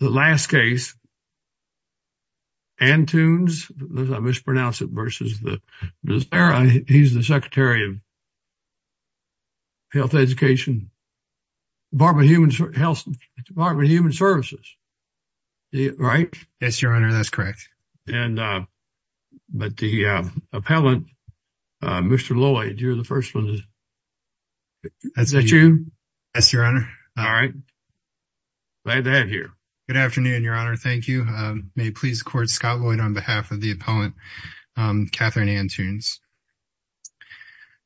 The last case, Antunes, I mispronounced it, versus Becerra, he's the Secretary of Health Education, Department of Human Services, right? Yes, Your Honor, that's correct. And, but the appellant, Mr. Lloyd, you're the first one. Is that you? Yes, Your Honor. All right. Glad to have you here. Good afternoon, Your Honor. Thank you. May it please the court, Scott Lloyd, on behalf of the appellant, Katherine Antunes.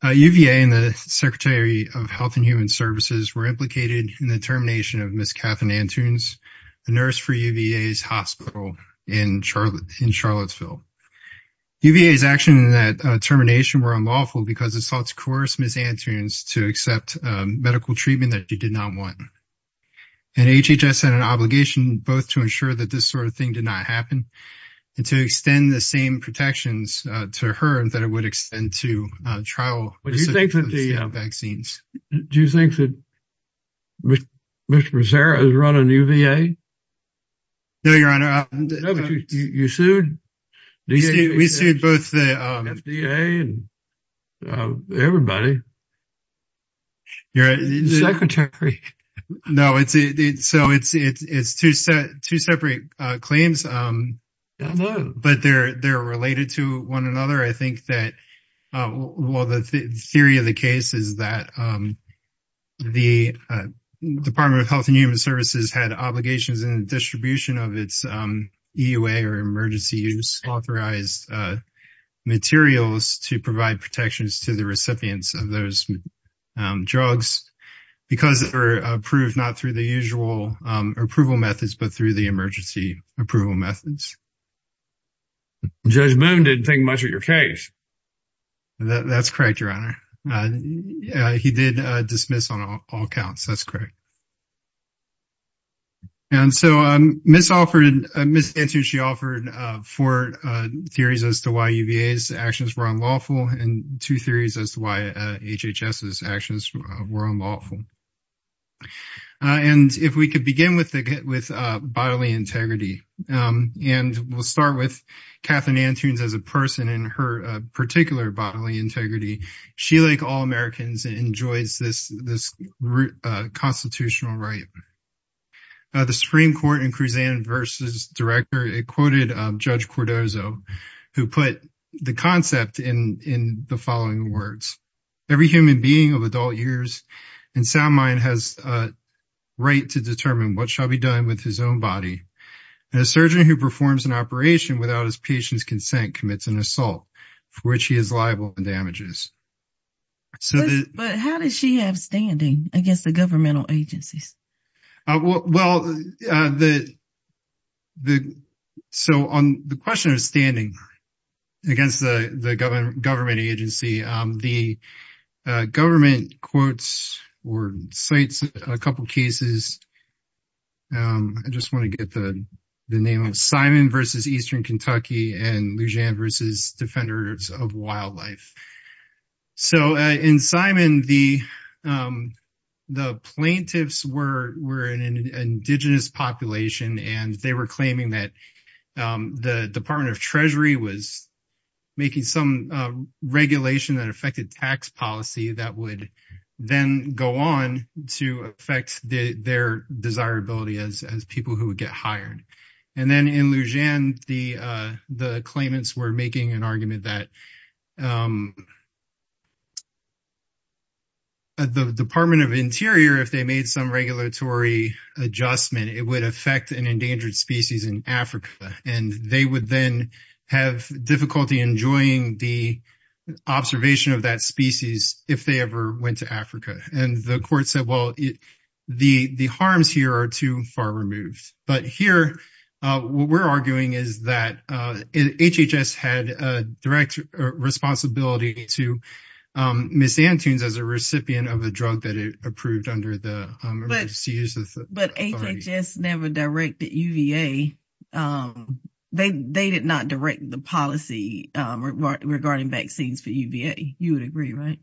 UVA and the Secretary of Health and Human Services were implicated in the termination of Ms. Katherine Antunes, the nurse for UVA's hospital in Charlottesville. UVA's actions in that termination were unlawful because assaults coerced Ms. Antunes to accept medical treatment that she did not want. And HHS had an obligation, both to ensure that this sort of thing did not happen and to extend the same protections to her that it would extend to trial- What do you think of the- Vaccines. Do you think that Mr. Becerra is running UVA? No, Your Honor. No, but you sued? We sued both the FDA and everybody. You're right. The Secretary. No, so it's two separate claims, but they're related to one another. I think that, well, the theory of the case is that the Department of Health and Human Services had obligations in the distribution of its EUA or emergency use authorized materials to provide protections to the recipients of those drugs because they were approved not through the usual approval methods, but through the emergency approval methods. Judge Boone didn't think much of your case. That's correct, Your Honor. He did dismiss on all counts. That's correct. And so Ms. Antunes, she offered four theories as to why UVA's actions were unlawful and two theories as to why HHS's actions were unlawful. And if we could begin with bodily integrity, and we'll start with Katherine Antunes as a person and her particular bodily integrity. She, like all Americans, enjoys this constitutional right. The Supreme Court in Kruzan v. Director, it quoted Judge Cordozo, who put the concept in the following words. Every human being of adult years and sound mind has a right to determine what shall be done with his own body. And a surgeon who performs an operation without his patient's consent commits an assault for which he is liable and damages. But how does she have standing against the governmental agencies? Well, so on the question of standing against the government agency, the government quotes or cites a couple of cases. I just wanna get the name of Simon v. Eastern Kentucky and Lujan v. Defenders of Wildlife. So in Simon, the plaintiffs were an indigenous population and they were claiming that the Department of Treasury was making some regulation that affected tax policy that would then go on to affect their desirability as people who would get hired. And then in Lujan, the claimants were making an argument that the Department of Interior, if they made some regulatory adjustment, it would affect an endangered species in Africa. And they would then have difficulty enjoying the observation of that species if they ever went to Africa. And the court said, well, the harms here are too far removed. But here, what we're arguing is that HHS had a direct responsibility to Ms. Antunes as a recipient of a drug that it approved under the emergency use authority. But HHS never directed UVA. They did not direct the policy regarding vaccines for UVA. You would agree, right?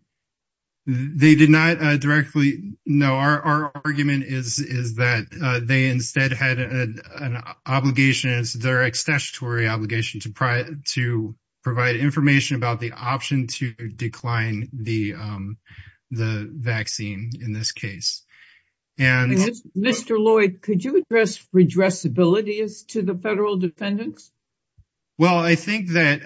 They did not directly, no. Our argument is that they instead had an obligation as direct statutory obligation to provide information about the option to decline the vaccine in this case. And- Mr. Lloyd, could you address redressability as to the federal defendants? Well, I think that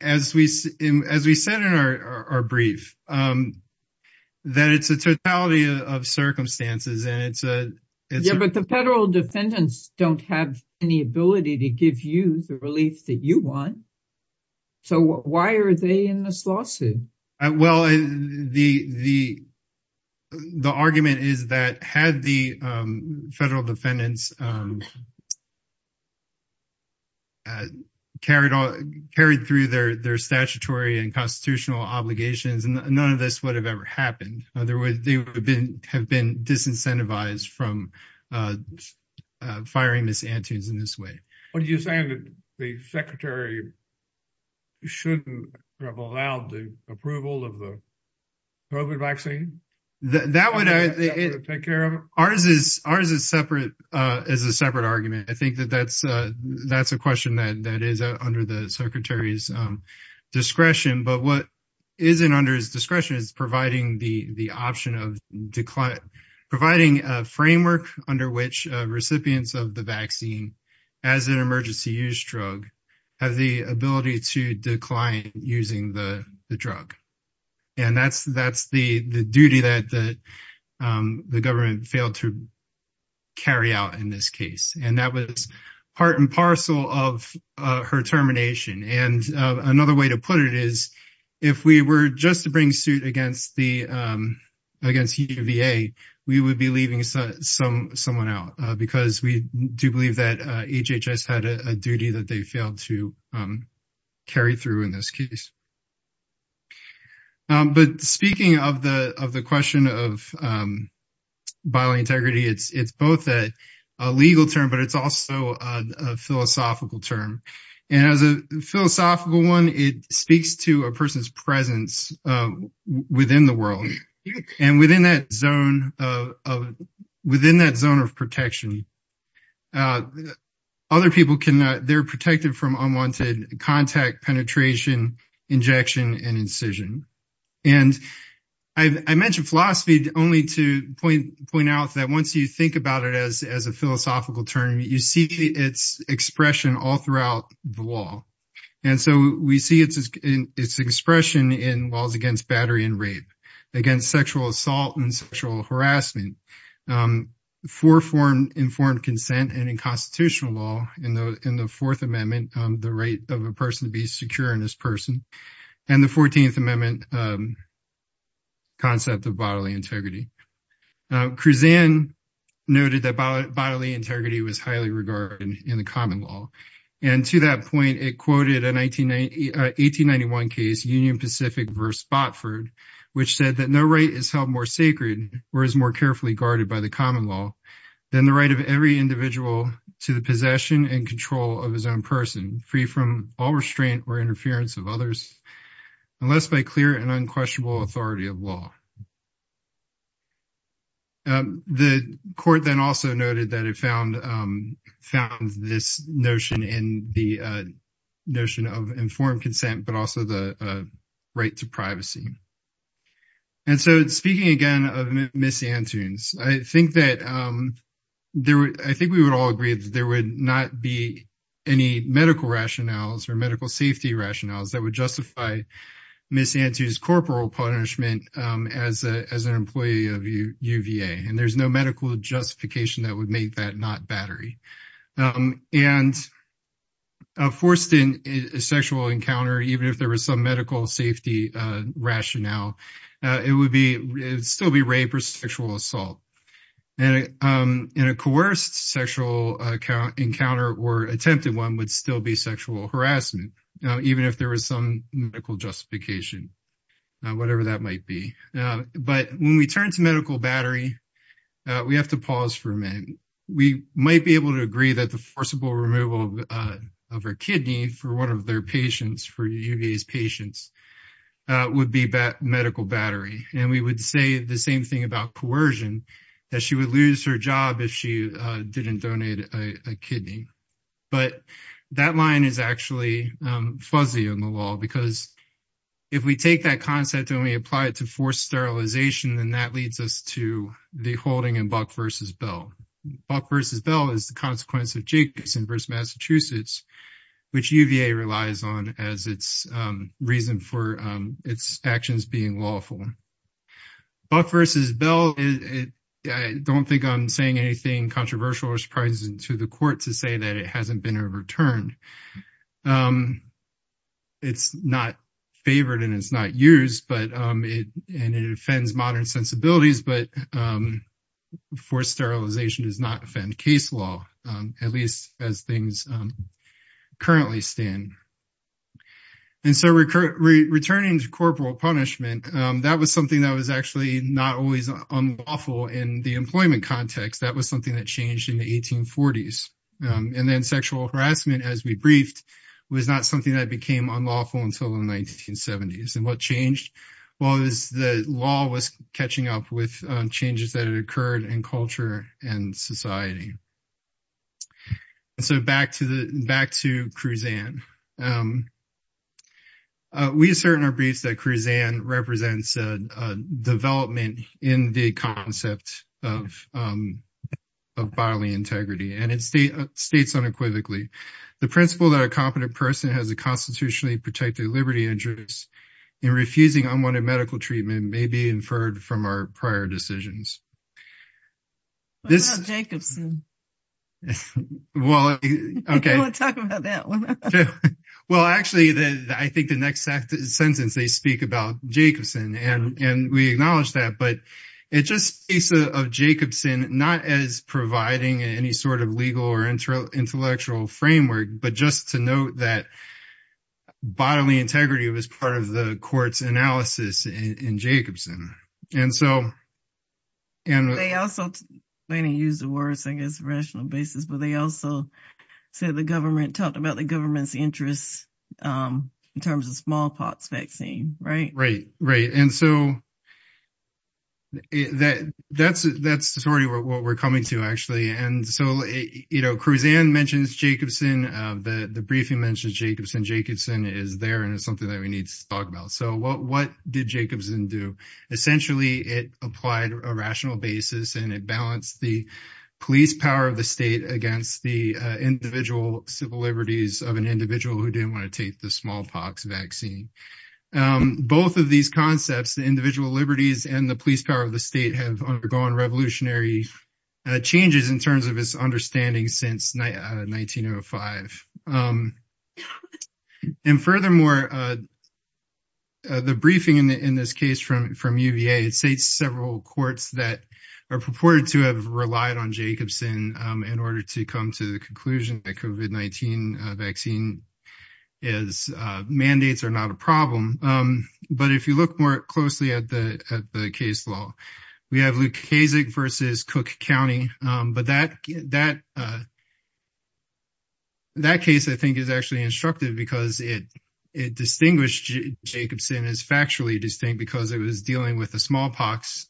as we said in our brief, that it's a totality of circumstances and it's a- Yeah, but the federal defendants don't have any ability to give you the relief that you want. So why are they in this lawsuit? Well, the argument is that had the federal defendants carried through their statutory and constitutional obligations, none of this would have ever happened. In other words, they would have been disincentivized from firing Ms. Antunes in this way. What are you saying that the secretary shouldn't have allowed the approval of the COVID vaccine? That would- Take care of it? Ours is a separate argument. I think that that's a question that is under the secretary's discretion. But what isn't under his discretion is providing the option of declining, providing a framework under which recipients of the vaccine as an emergency use drug have the ability to decline using the drug. And that's the duty that the government failed to carry out in this case. And that was part and parcel of her termination. And another way to put it is, if we were just to bring suit against UVA, we would be leaving someone out because we do believe that HHS had a duty that they failed to carry through in this case. But speaking of the question of bodily integrity, it's both a legal term, but it's also a philosophical term. And as a philosophical one, it speaks to a person's presence within the world. And within that zone of protection, other people, they're protected from unwanted contact, penetration, injection, and incision. And I mentioned philosophy only to point out that once you think about it as a philosophical term, you see its expression all throughout the law. And so we see its expression in laws against battery and rape, against sexual assault and sexual harassment. Four-form informed consent and in constitutional law in the Fourth Amendment, the right of a person to be secure in this person. And the 14th Amendment concept of bodily integrity. Kruzan noted that bodily integrity was highly regarded in the common law. And to that point, it quoted an 1891 case, Union Pacific v. Botford, which said that no right is held more sacred or is more carefully guarded by the common law than the right of every individual to the possession and control of his own person, free from all restraint or interference of others, unless by clear and unquestionable authority of law. The court then also noted that it found this notion but also the right to privacy. And so speaking again of Ms. Antunes, I think we would all agree that there would not be any medical rationales or medical safety rationales that would justify Ms. Antunes' corporal punishment as an employee of UVA. And there's no medical justification that would make that not battery. And a forced sexual encounter, even if there was some medical safety rationale, it would still be rape or sexual assault. And in a coerced sexual encounter or attempted one would still be sexual harassment, even if there was some medical justification, whatever that might be. But when we turn to medical battery, we have to pause for a minute. We might be able to agree that the forcible removal of her kidney for one of their patients, for UVA's patients, would be medical battery. And we would say the same thing about coercion, that she would lose her job if she didn't donate a kidney. But that line is actually fuzzy on the law because if we take that concept and we apply it to forced sterilization, then that leads us to the holding in Buck versus Bell. Buck versus Bell is the consequence of Jacobson versus Massachusetts, which UVA relies on as its reason for its actions being lawful. Buck versus Bell, I don't think I'm saying anything controversial or surprising to the court to say that it hasn't been overturned. It's not favored and it's not used, and it offends modern sensibilities, but forced sterilization does not offend case law, at least as things currently stand. And so returning to corporal punishment, that was something that was actually not always unlawful in the employment context. That was something that changed in the 1840s. And then sexual harassment, as we briefed, was not something that became unlawful until the 1970s. And what changed? Well, the law was catching up with changes that had occurred in culture and society. And so back to Cruzan. We assert in our briefs that Cruzan represents a development in the concept of bodily integrity, and it states unequivocally, the principle that a competent person has a constitutionally protected liberty and juris in refusing unwanted medical treatment may be inferred from our prior decisions. What about Jacobson? Well, okay. I don't wanna talk about that one. Well, actually, I think the next sentence, they speak about Jacobson, and we acknowledge that, but it just speaks of Jacobson, not as providing any sort of legal or intellectual framework, but just to note that bodily integrity was part of the court's analysis in Jacobson. And so- And they also, they didn't use the words, I guess, on a rational basis, but they also said the government, talked about the government's interests in terms of smallpox vaccine, right? Right, right. And so that's sort of what we're coming to, actually. And so Cruzan mentions Jacobson, the briefing mentions Jacobson. Jacobson is there, and it's something that we need to talk about. So what did Jacobson do? Essentially, it applied a rational basis, and it balanced the police power of the state against the individual civil liberties of an individual who didn't wanna take the smallpox vaccine. Both of these concepts, the individual liberties and the police power of the state have undergone revolutionary changes in terms of its understanding since 1905. And furthermore, the briefing in this case from UVA, it states several courts that are purported to have relied on Jacobson in order to come to the conclusion that COVID-19 vaccine is, mandates are not a problem. But if you look more closely at the case law, we have Lukaszek versus Cook County, but that case, I think, is actually instructive because it distinguished Jacobson as factually distinct because it was dealing with the smallpox,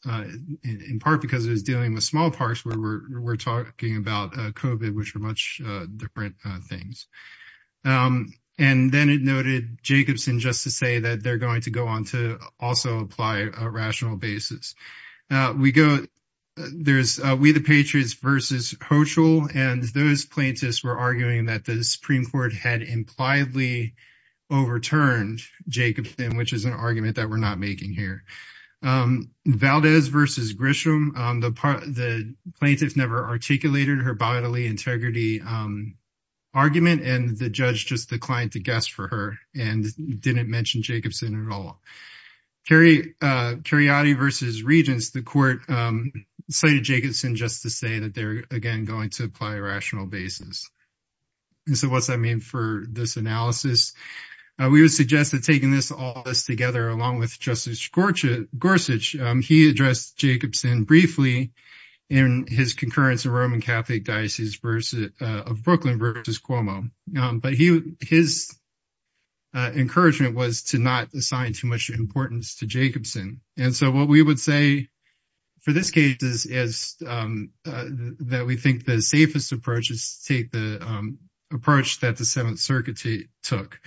in part, because it was dealing with smallpox where we're talking about COVID, which are much different things. And then it noted Jacobson just to say that they're going to go on to also apply a rational basis. We go, there's We the Patriots versus Hochul, and those plaintiffs were arguing that the Supreme Court had impliedly overturned Jacobson, which is an argument that we're not making here. Valdez versus Grisham, the plaintiffs never articulated her bodily integrity argument, and the judge just declined to guess for her and didn't mention Jacobson at all. Cariotti versus Regence, the court cited Jacobson just to say that they're, again, going to apply a rational basis. And so what's that mean for this analysis? We would suggest that taking all this together along with Justice Gorsuch, he addressed Jacobson briefly in his concurrence of Roman Catholic Diocese of Brooklyn versus Cuomo, but his encouragement was to not assign too much importance to Jacobson. And so what we would say for this case is that we think the safest approach is to take the approach that the Seventh Circuit took,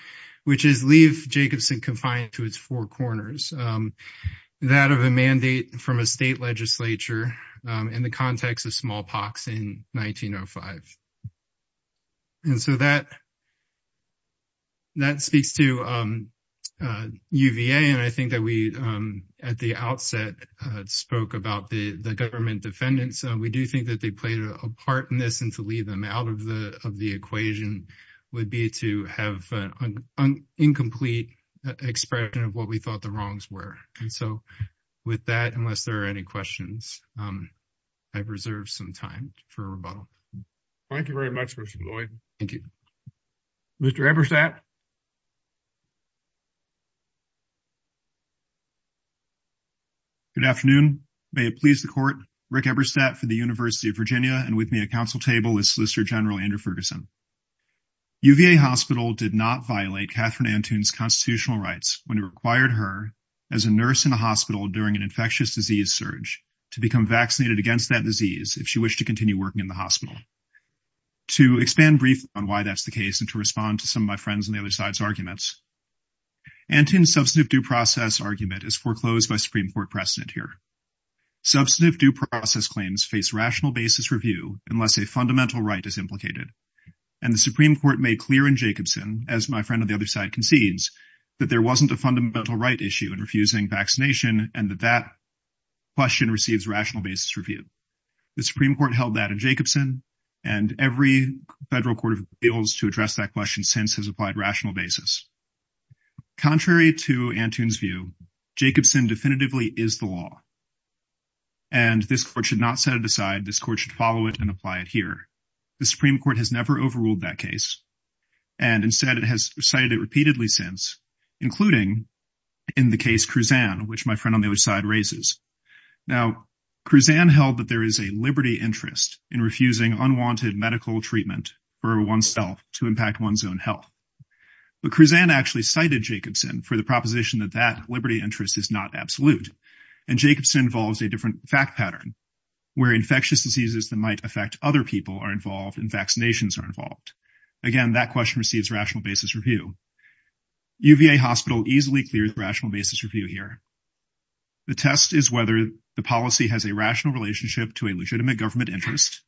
which is leave Jacobson confined to its four corners, that of a mandate from a state legislature in the context of smallpox in 1905. And so that speaks to UVA, and I think that we, at the outset, spoke about the government defendants. We do think that they played a part in this and to leave them out of the equation would be to have an incomplete expression of what we thought the wrongs were. And so with that, unless there are any questions, I've reserved some time for rebuttal. Thank you very much, Mr. Lloyd. Thank you. Mr. Eberstadt. Good afternoon. May it please the court, Rick Eberstadt for the University of Virginia and with me at council table is Solicitor General Andrew Ferguson. UVA Hospital did not violate Catherine Antoon's constitutional rights when it required her as a nurse in a hospital during an infectious disease surge to become vaccinated against that disease if she wished to continue working in the hospital. To expand briefly on why that's the case and to respond to some of my friends on the other side's arguments, Antoon's substantive due process argument is foreclosed by Supreme Court precedent here. Substantive due process claims face rational basis review unless a fundamental right is implicated. And the Supreme Court made clear in Jacobson, as my friend on the other side concedes, that there wasn't a fundamental right issue in refusing vaccination and that that question receives rational basis review. The Supreme Court held that in Jacobson and every federal court of appeals to address that question since has applied rational basis. Contrary to Antoon's view, Jacobson definitively is the law. And this court should not set it aside. This court should follow it and apply it here. The Supreme Court has never overruled that case. And instead it has cited it repeatedly since, including in the case Kruzan, which my friend on the other side raises. Now, Kruzan held that there is a liberty interest in refusing unwanted medical treatment for oneself to impact one's own health. But Kruzan actually cited Jacobson for the proposition that that liberty interest is not absolute. And Jacobson involves a different fact pattern where infectious diseases that might affect other people are involved and vaccinations are involved. Again, that question receives rational basis review. UVA Hospital easily clears rational basis review here. The test is whether the policy has a rational relationship to a legitimate government interest.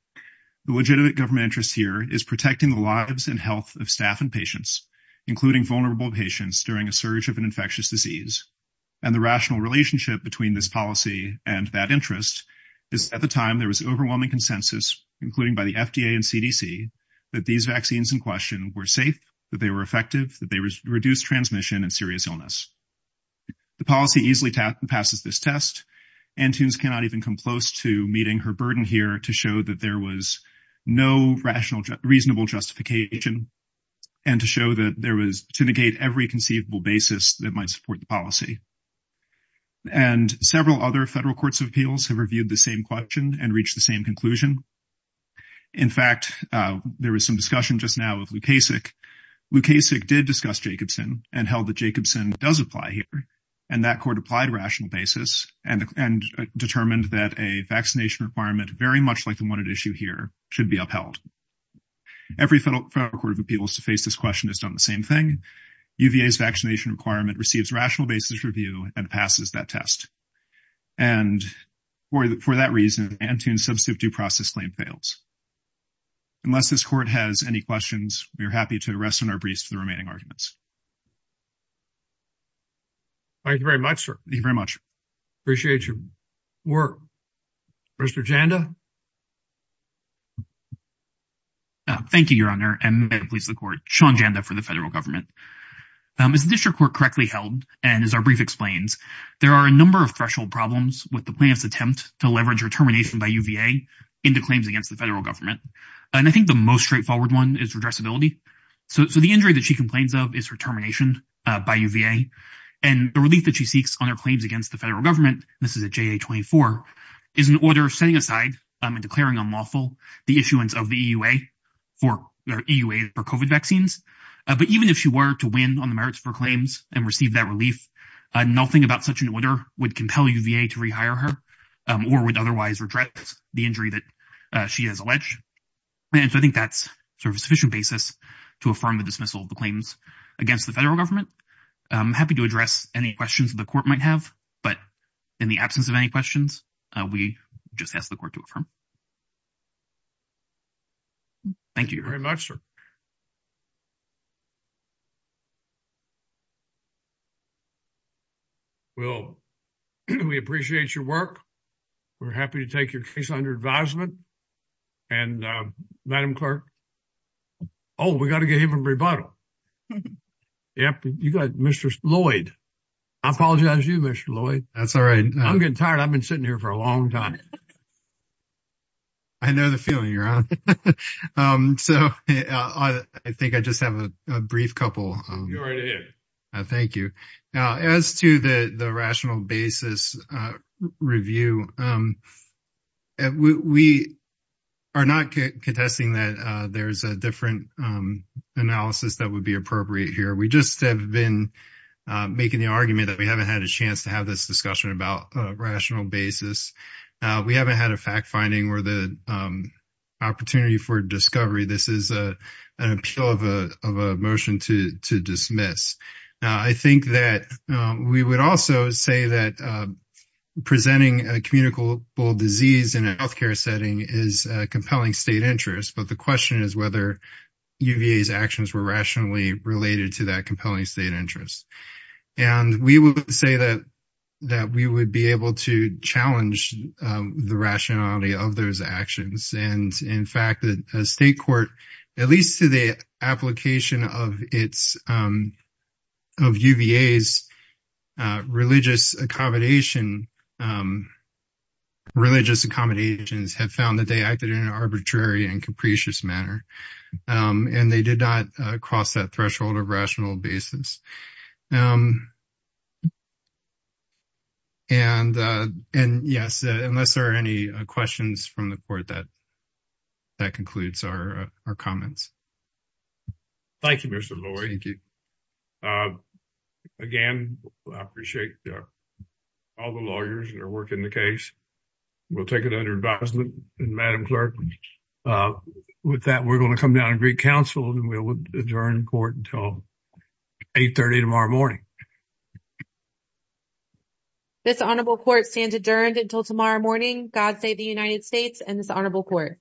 The legitimate government interest here is protecting the lives and health of staff and patients, including vulnerable patients during a surge of an infectious disease. And the rational relationship between this policy and that interest is at the time there was overwhelming consensus, including by the FDA and CDC, that these vaccines in question were safe, that they were effective, that they reduced transmission and serious illness. The policy easily passes this test. Antunes cannot even come close to meeting her burden here to show that there was no reasonable justification and to show that there was, to negate every conceivable basis that might support the policy. And several other federal courts of appeals have reviewed the same question and reached the same conclusion. In fact, there was some discussion just now of Lukasik. Lukasik did discuss Jacobson and held that Jacobson does apply here. And that court applied rational basis and determined that a vaccination requirement very much like the one at issue here should be upheld. Every federal court of appeals to face this question has done the same thing. UVA's vaccination requirement receives rational basis review and passes that test. And for that reason, Antunes' substantive due process claim fails. Unless this court has any questions, we are happy to rest on our briefs for the remaining arguments. Thank you very much, sir. Thank you very much. Appreciate your work. Mr. Janda. Thank you, your honor. And may it please the court, Sean Janda for the federal government. Is the district court correctly held? And as our brief explains, there are a number of threshold problems with the plaintiff's attempt to leverage her termination by UVA into claims against the federal government. And I think the most straightforward one is redressability. So the injury that she complains of is her termination by UVA and the relief that she seeks on her claims against the federal government, this is a JA-24, is an order of setting aside and declaring unlawful the issuance of the EUA for COVID vaccines. But even if she were to win on the merits of her claims and receive that relief, nothing about such an order would compel UVA to rehire her or would otherwise redress the injury that she has alleged. And so I think that's sort of a sufficient basis to affirm the dismissal of the claims against the federal government. I'm happy to address any questions the court might have, but in the absence of any questions, we just ask the court to affirm. Thank you very much, sir. Well, we appreciate your work. We're happy to take your case under advisement. And Madam Clerk. Oh, we got to get him a rebuttal. Yep, you got Mr. Lloyd. I apologize to you, Mr. Lloyd. That's all right. I'm getting tired. I've been sitting here for a long time. I know the feeling you're on. So I think I just have a brief couple. You're already here. Thank you. Now, as to the rational basis review, we are not contesting that there's a different analysis that would be appropriate here. We just have been making the argument that we haven't had a chance to have this discussion about a rational basis. We haven't had a fact finding or the opportunity for discovery. This is an appeal of a motion to dismiss. I think that we would also say that presenting a communicable disease in a healthcare setting is a compelling state interest. But the question is whether UVA's actions were rationally related to that compelling state interest. And we would say that we would be able to challenge the rationality of those actions. And in fact, the state court, at least to the application of UVA's religious accommodation, religious accommodations have found that they acted in an arbitrary and capricious manner. And they did not cross that threshold of rational basis. And yes, unless there are any questions from the court, that concludes our comments. Thank you, Mr. Loy. Thank you. Again, I appreciate all the lawyers and their work in the case. We'll take it under advisement. And Madam Clerk, with that, we're gonna come down and greet counsel and we'll adjourn court until 8.30 tomorrow morning. This honorable court stands adjourned until tomorrow morning. God save the United States and this honorable court.